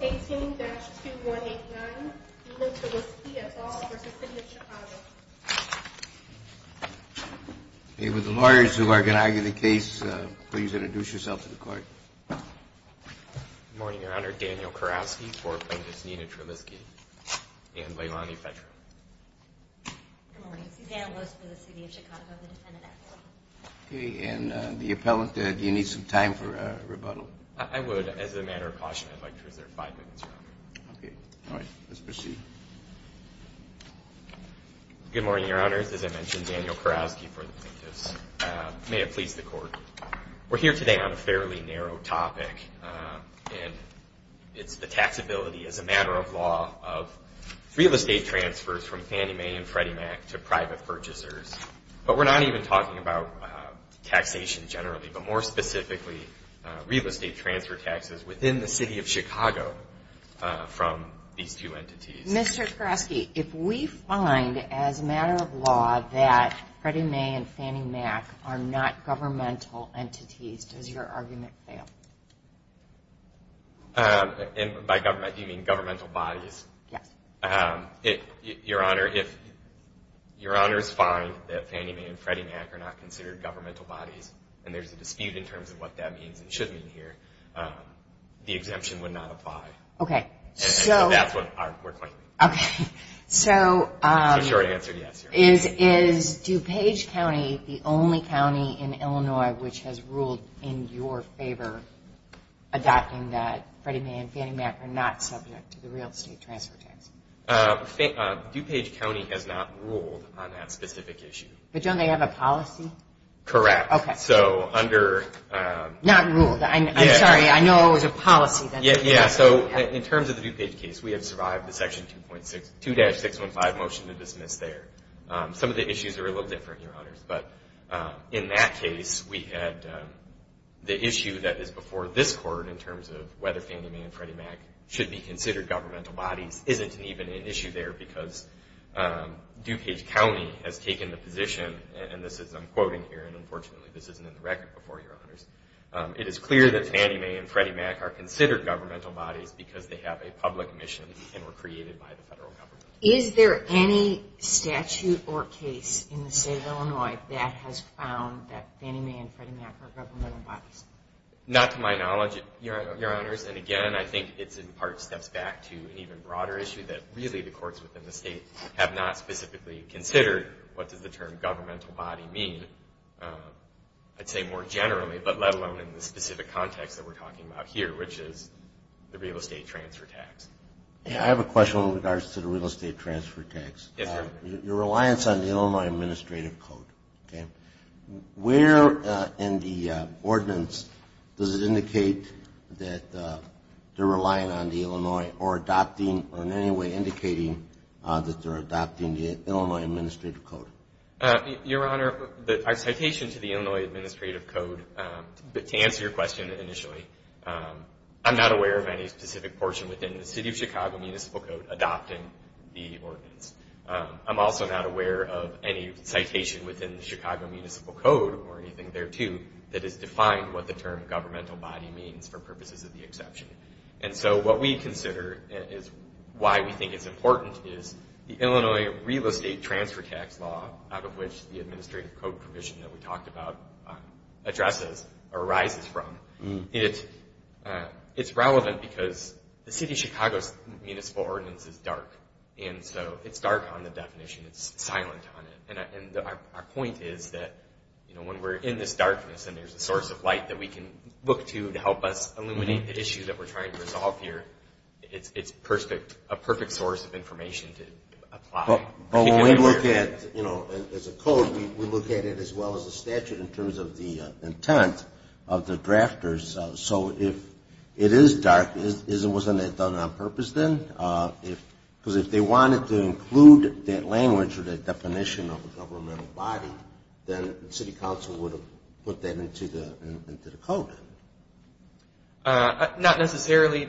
18-2189 Nina Trillisky v. City of Chicago With the lawyers who are going to argue the case, please introduce yourself to the court. Good morning, Your Honor. Daniel Kurowski for Appendix Nina Trillisky and Leilani Fetrow. Good morning. Susanna Loos for the City of Chicago, the defendant at law. Okay, and the appellant, do you need some time for rebuttal? I would, as a matter of caution, I'd like to reserve five minutes, Your Honor. Okay. All right. Let's proceed. Good morning, Your Honors. As I mentioned, Daniel Kurowski for the plaintiffs. May it please the Court, we're here today on a fairly narrow topic, and it's the taxability as a matter of law of real estate transfers from Fannie Mae and Freddie Mac to private purchasers. But we're not even talking about taxation generally, but more specifically real estate transfer taxes within the City of Chicago from these two entities. Mr. Kurowski, if we find as a matter of law that Freddie Mae and Fannie Mac are not governmental entities, does your argument fail? And by government, do you mean governmental bodies? Yes. Your Honor, if Your Honors find that Fannie Mae and Freddie Mac are not considered governmental bodies, and there's a dispute in terms of what that means and should mean here, the exemption would not apply. Okay. That's what we're questioning. Okay. So is DuPage County the only county in Illinois which has ruled in your favor adopting that Freddie Mae and Fannie Mac are not subject to the real estate transfer tax? DuPage County has not ruled on that specific issue. But don't they have a policy? Correct. Okay. So under... Not ruled. I'm sorry. I know there's a policy. Yeah. So in terms of the DuPage case, we have survived the Section 2-615 motion to dismiss there. Some of the issues are a little different, Your Honors. But in that case, we had the issue that is before this Court in terms of whether Fannie Mae and Freddie Mac should be considered governmental bodies isn't even an issue there because DuPage County has taken the position, and I'm quoting here, and unfortunately this isn't in the record before, Your Honors, it is clear that Fannie Mae and Freddie Mac are considered governmental bodies because they have a public mission and were created by the federal government. Is there any statute or case in the state of Illinois that has found that Fannie Mae and Freddie Mac are governmental bodies? Not to my knowledge, Your Honors. And again, I think it's in part steps back to an even broader issue that really the courts within the state have not specifically considered what does the term governmental body mean, I'd say more generally, but let alone in the specific context that we're talking about here, which is the real estate transfer tax. I have a question in regards to the real estate transfer tax. Yes, sir. Your reliance on the Illinois Administrative Code, okay, where in the ordinance does it indicate that they're relying on the Illinois or adopting or in any way indicating that they're adopting the Illinois Administrative Code? Your Honor, our citation to the Illinois Administrative Code, to answer your question initially, I'm not aware of any specific portion within the City of Chicago Municipal Code adopting the ordinance. I'm also not aware of any citation within the Chicago Municipal Code or anything thereto that has defined what the term governmental body means for purposes of the exception. And so what we consider is why we think it's important is the Illinois real estate transfer tax law, out of which the Administrative Code provision that we talked about addresses or arises from, and it's relevant because the City of Chicago's municipal ordinance is dark, and so it's dark on the definition. It's silent on it. And our point is that, you know, when we're in this darkness and there's a source of light that we can look to to help us eliminate the issue that we're trying to resolve here, it's a perfect source of information to apply. But when we look at, you know, as a code, we look at it as well as a statute in terms of the intent of the drafters. So if it is dark, wasn't it done on purpose then? Because if they wanted to include that language or that definition of a governmental body, then the city council would have put that into the code. Not necessarily,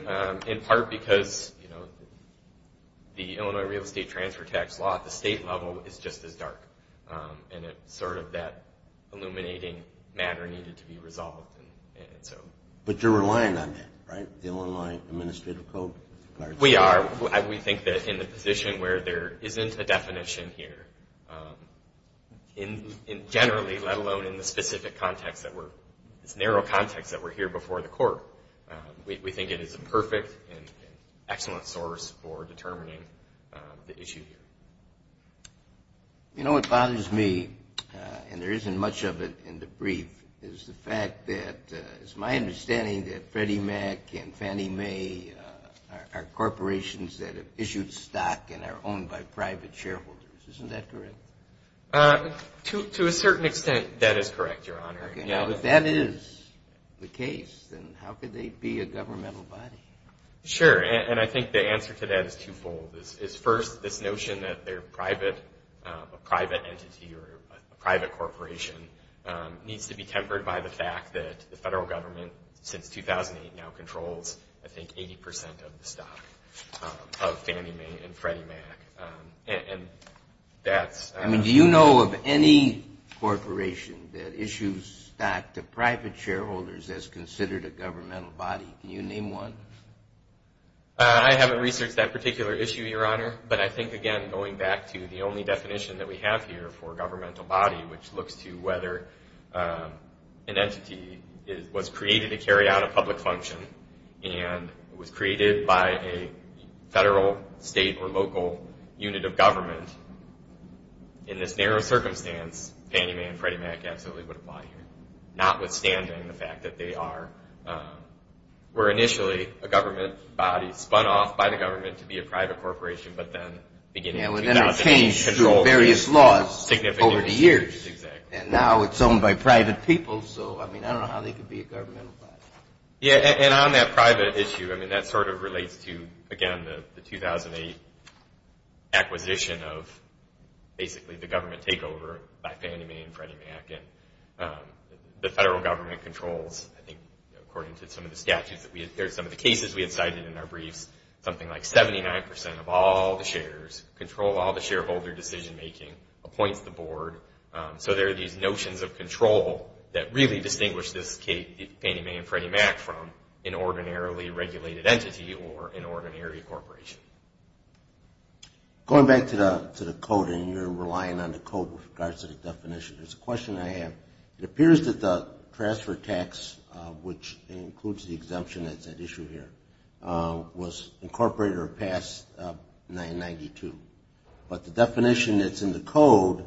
in part because, you know, the Illinois real estate transfer tax law at the state level is just as dark, and it's sort of that illuminating matter needed to be resolved. But you're relying on that, right, the Illinois Administrative Code? We are. We think that in the position where there isn't a definition here, generally, let alone in the specific context, this narrow context that we're here before the court, we think it is a perfect and excellent source for determining the issue here. You know what bothers me, and there isn't much of it in the brief, is the fact that it's my understanding that Freddie Mac and Fannie Mae are corporations that have issued stock and are owned by private shareholders. Isn't that correct? To a certain extent, that is correct, Your Honor. If that is the case, then how could they be a governmental body? Sure, and I think the answer to that is twofold. First, this notion that they're private, a private entity or a private corporation, needs to be tempered by the fact that the federal government, since 2008, now controls, I think, 80% of the stock of Fannie Mae and Freddie Mac. Do you know of any corporation that issues stock to private shareholders that's considered a governmental body? Can you name one? I haven't researched that particular issue, Your Honor, but I think, again, going back to the only definition that we have here for governmental body, which looks to whether an entity was created to carry out a public function and was created by a federal, state, or local unit of government, in this narrow circumstance, Fannie Mae and Freddie Mac absolutely would apply here, notwithstanding the fact that they are, were initially a government body, spun off by the government to be a private corporation, but then beginning to get out of control. And then are changed through various laws over the years. Exactly. And now it's owned by private people, so, I mean, I don't know how they could be a governmental body. Yeah, and on that private issue, I mean, that sort of relates to, again, the 2008 acquisition of, basically, the government takeover by Fannie Mae and Freddie Mac. And the federal government controls, I think, according to some of the statutes that we, or some of the cases we had cited in our briefs, something like 79% of all the shares control all the shareholder decision-making, appoints the board. So there are these notions of control that really distinguish this Fannie Mae and Freddie Mac from an ordinarily regulated entity or an ordinary corporation. Going back to the code, and you're relying on the code with regards to the definition, there's a question I have. It appears that the transfer tax, which includes the exemption that's at issue here, was incorporated or passed in 1992. But the definition that's in the code,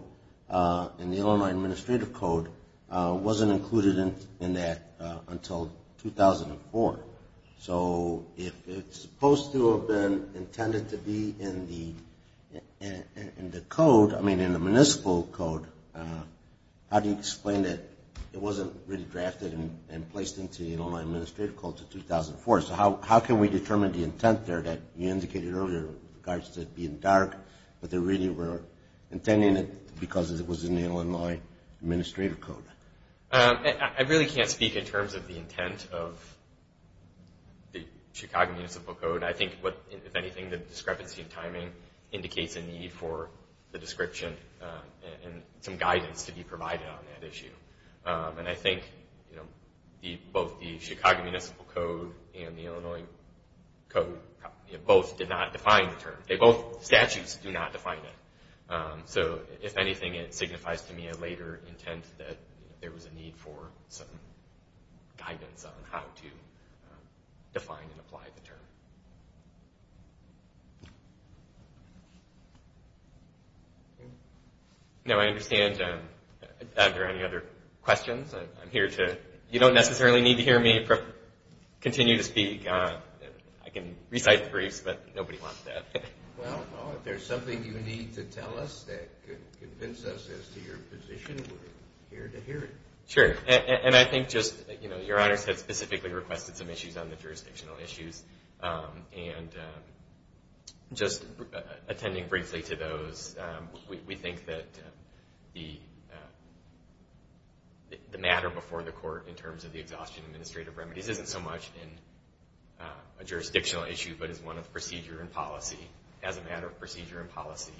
in the Illinois Administrative Code, wasn't included in that until 2004. So if it's supposed to have been intended to be in the code, I mean, in the municipal code, how do you explain that it wasn't really drafted and placed into the Illinois Administrative Code until 2004? So how can we determine the intent there that you indicated earlier in regards to it being dark, but they really were intending it because it was in the Illinois Administrative Code? I really can't speak in terms of the intent of the Chicago Municipal Code. I think, if anything, the discrepancy in timing indicates a need for the description and some guidance to be provided on that issue. And I think both the Chicago Municipal Code and the Illinois Code both did not define the term. Both statutes do not define it. So if anything, it signifies to me a later intent that there was a need for some guidance on how to define and apply the term. No, I understand. Are there any other questions? I'm here to, you don't necessarily need to hear me continue to speak. I can recite briefs, but nobody wants that. Well, if there's something you need to tell us that could convince us as to your position, we're here to hear it. Sure, and I think just, you know, Your Honors has specifically requested some issues on the jurisdictional issues. And just attending briefly to those, we think that the matter before the court in terms of the exhaustion of administrative remedies isn't so much a jurisdictional issue, but is one of procedure and policy. As a matter of procedure and policy,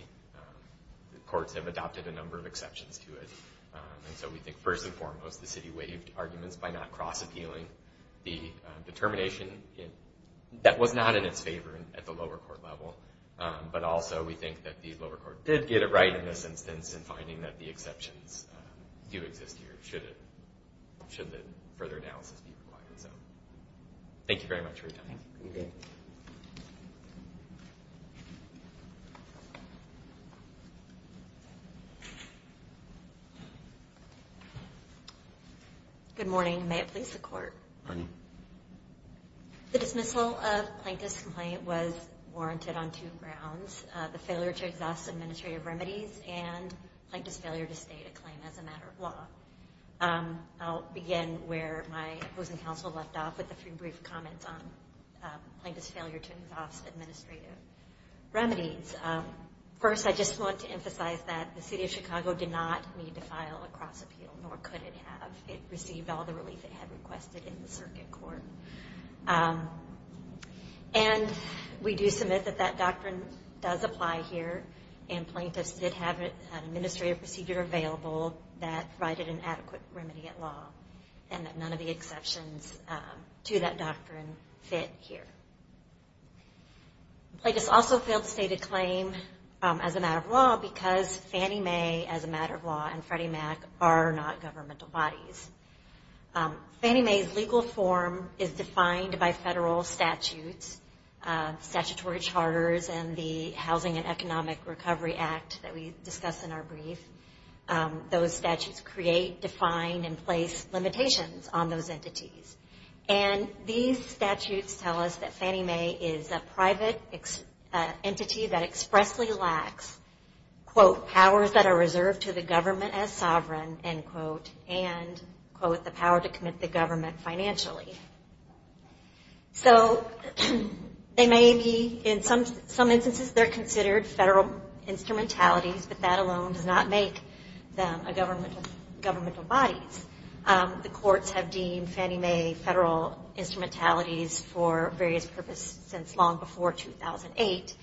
the courts have adopted a number of exceptions to it. And so we think first and foremost the city waived arguments by not cross appealing the determination that was not in its favor at the lower court level. But also we think that the lower court did get it right in this instance in finding that the exceptions do exist here, should the further analysis be required. Thank you very much for your time. Good morning. May it please the court. Good morning. The dismissal of Plaintiff's complaint was warranted on two grounds, the failure to exhaust administrative remedies and Plaintiff's failure to state a claim as a matter of law. I'll begin where my opposing counsel left off with a few brief comments on Plaintiff's failure to exhaust administrative remedies. First, I just want to emphasize that the city of Chicago did not need to file a cross appeal, nor could it have. It received all the relief it had requested in the circuit court. And we do submit that that doctrine does apply here, and Plaintiff's did have an administrative procedure available that provided an adequate remedy at law, and that none of the exceptions to that doctrine fit here. Plaintiff's also failed to state a claim as a matter of law because Fannie Mae, as a matter of law, and Freddie Mac are not governmental bodies. Fannie Mae's legal form is defined by federal statutes, statutory charters, and the Housing and Economic Recovery Act that we discuss in our brief. Those statutes create, define, and place limitations on those entities. And these statutes tell us that Fannie Mae is a private entity that expressly lacks, quote, powers that are reserved to the government as sovereign, end quote, and, quote, the power to commit the government financially. So they may be, in some instances, they're considered federal instrumentalities, but that alone does not make them a governmental body. The courts have deemed Fannie Mae federal instrumentalities for various purposes since long before 2008,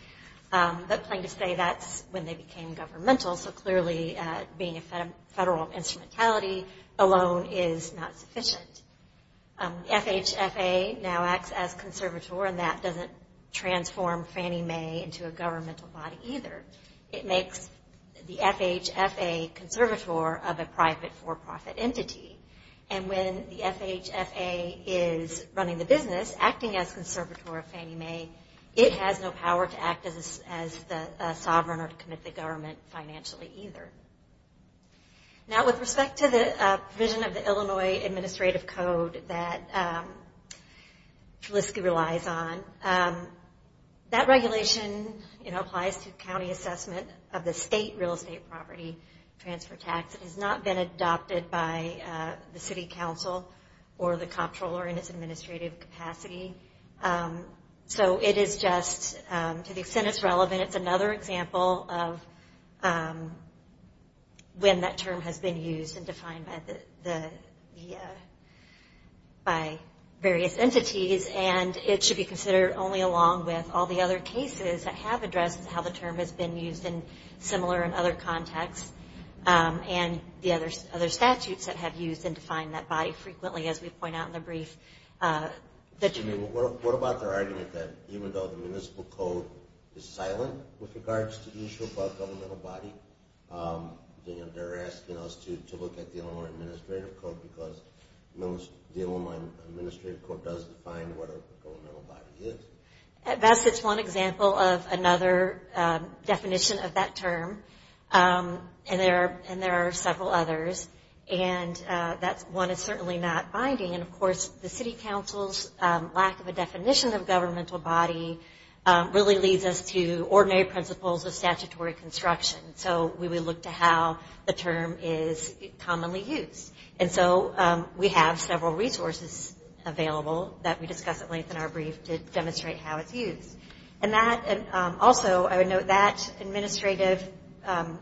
but Plaintiff's say that's when they became governmental, so clearly being a federal instrumentality alone is not sufficient. FHFA now acts as conservator, and that doesn't transform Fannie Mae into a governmental body either. It makes the FHFA conservator of a private for-profit entity, and when the FHFA is running the business, acting as conservator of Fannie Mae, it has no power to act as the sovereign or commit the government financially either. Now, with respect to the provision of the Illinois Administrative Code that Felicity relies on, that regulation applies to county assessment of the state real estate property transfer tax. It has not been adopted by the city council or the comptroller in its administrative capacity, so it is just, to the extent it's relevant, it's another example of when that term has been used and defined by various entities, and it should be considered only along with all the other cases that have addressed how the term has been used in similar and other contexts, and the other statutes that have used and defined that body frequently, as we point out in the brief. What about their argument that even though the municipal code is silent with regards to issues about governmental body, they're asking us to look at the Illinois Administrative Code because the Illinois Administrative Code does define what a governmental body is. At best, it's one example of another definition of that term, and there are several others, and one is certainly not binding, and of course, the city council's lack of a definition of governmental body really leads us to ordinary principles of statutory construction, so we would look to how the term is commonly used, and so we have several resources available that we discuss at length in our brief to demonstrate how it's used. Also, I would note that administrative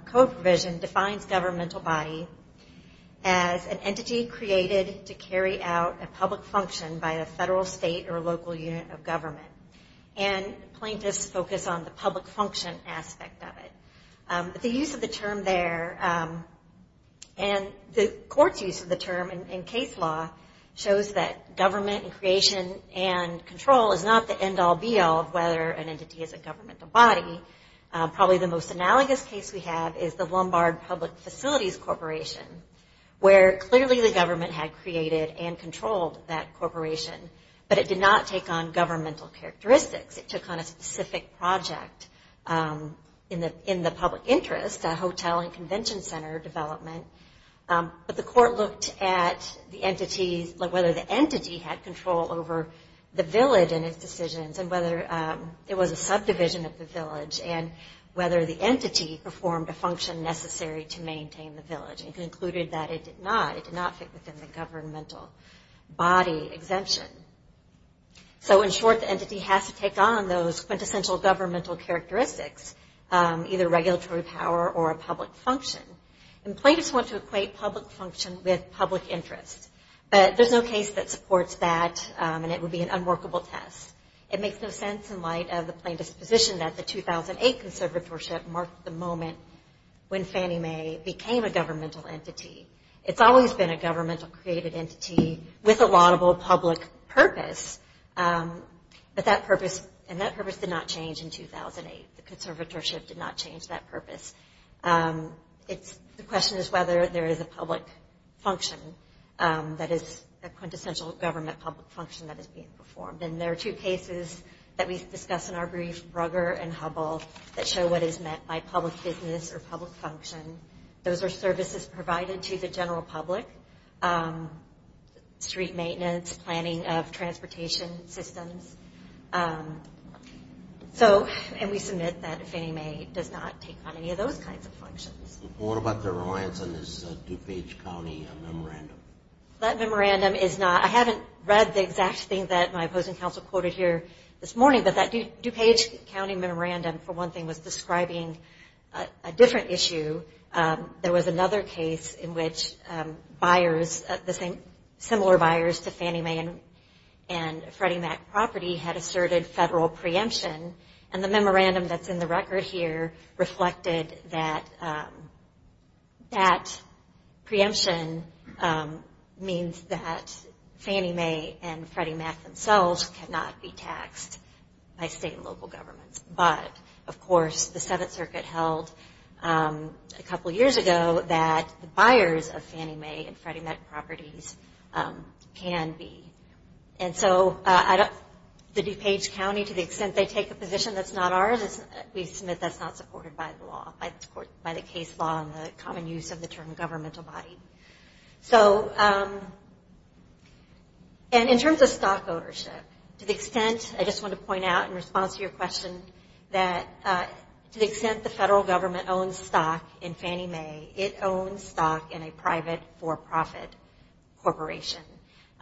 code provision defines governmental body as an entity created to carry out a public function by a federal, state, or local unit of government, and plaintiffs focus on the public function aspect of it. The use of the term there, and the court's use of the term in case law, shows that government and creation and control is not the end-all, be-all of whether an entity is a governmental body. Probably the most analogous case we have is the Lombard Public Facilities Corporation, where clearly the government had created and controlled that corporation, but it did not take on governmental characteristics. It took on a specific project in the public interest, a hotel and convention center development, but the court looked at whether the entity had control over the village and its decisions, and whether it was a subdivision of the village, and whether the entity performed a function necessary to maintain the village, and concluded that it did not. It did not fit within the governmental body exemption. So in short, the entity has to take on those quintessential governmental characteristics, either regulatory power or a public function. And plaintiffs want to equate public function with public interest, but there's no case that supports that, and it would be an unworkable test. It makes no sense in light of the plaintiff's position that the 2008 conservatorship marked the moment when Fannie Mae became a governmental entity. It's always been a governmental created entity with a laudable public purpose, but that purpose did not change in 2008. The conservatorship did not change that purpose. The question is whether there is a public function that is a quintessential government public function that is being performed, and there are two cases that we discuss in our brief, Brugger and Hubbell, that show what is meant by public business or public function. Those are services provided to the general public, street maintenance, planning of transportation systems. And we submit that Fannie Mae does not take on any of those kinds of functions. What about the reliance on this DuPage County memorandum? That memorandum is not – I haven't read the exact thing that my opposing counsel quoted here this morning, but that DuPage County memorandum, for one thing, was describing a different issue. There was another case in which similar buyers to Fannie Mae and Freddie Mac property had asserted federal preemption, and the memorandum that's in the record here reflected that that preemption means that Fannie Mae and Freddie Mac themselves cannot be taxed by state and local governments. But, of course, the Seventh Circuit held a couple years ago that the buyers of Fannie Mae and Freddie Mac properties can be. And so the DuPage County, to the extent they take a position that's not ours, we submit that's not supported by the law, by the case law and the common use of the term governmental body. And in terms of stock ownership, to the extent – I just want to point out in response to your question that to the extent the federal government owns stock in Fannie Mae, it owns stock in a private for-profit corporation.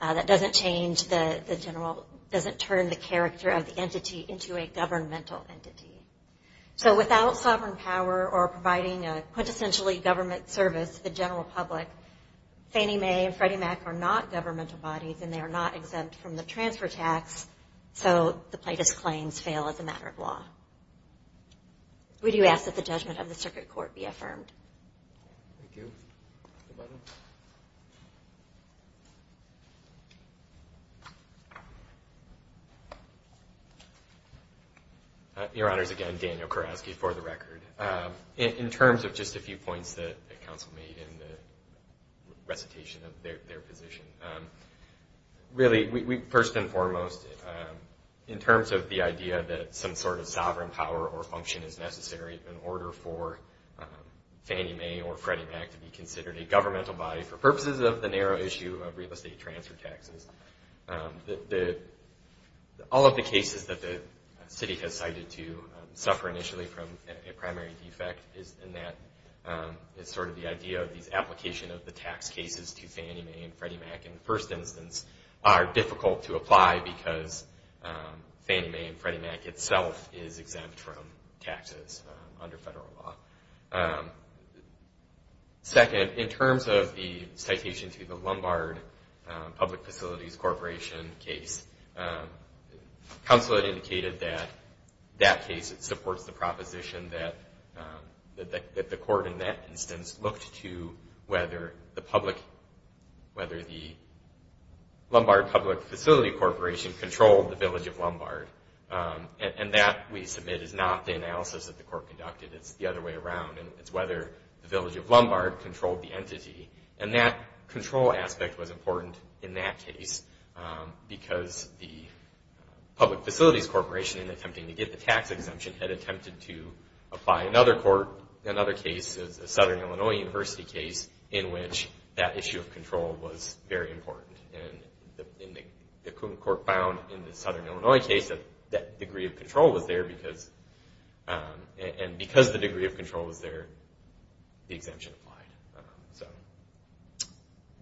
That doesn't change the general – doesn't turn the character of the entity into a governmental entity. So without sovereign power or providing a quintessentially government service to the general public, Fannie Mae and Freddie Mac are not governmental bodies, and they are not exempt from the transfer tax, so the plaintiff's claims fail as a matter of law. We do ask that the judgment of the Circuit Court be affirmed. Thank you. Your Honors, again, Daniel Kurowski for the record. In terms of just a few points that counsel made in the recitation of their position, really, first and foremost, in terms of the idea that some sort of sovereign power or function is necessary in order for Fannie Mae or Freddie Mac to be considered a governmental body for purposes of the narrow issue of real estate transfer taxes, all of the cases that the city has cited to suffer initially from a primary defect is in that it's sort of the idea of these application of the tax cases to Fannie Mae and Freddie Mac, in the first instance, are difficult to apply because Fannie Mae and Freddie Mac itself is exempt from taxes under federal law. Second, in terms of the citation to the Lombard Public Facilities Corporation case, counsel had indicated that that case supports the proposition that the court in that instance looked to whether the Lombard Public Facilities Corporation controlled the village of Lombard. And that, we submit, is not the analysis that the court conducted. It's the other way around. It's whether the village of Lombard controlled the entity. And that control aspect was important in that case because the Public Facilities Corporation, in attempting to get the tax exemption, had attempted to apply another court, another case, a Southern Illinois University case, in which that issue of control was very important. And the court found in the Southern Illinois case that that degree of control was there and because the degree of control was there, the exemption applied. So,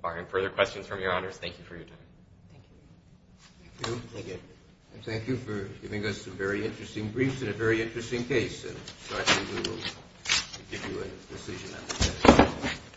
barring further questions from your honors, thank you for your time. Thank you. Thank you. Thank you for giving us some very interesting briefs and a very interesting case. And, Sergeant, we will give you a decision after that.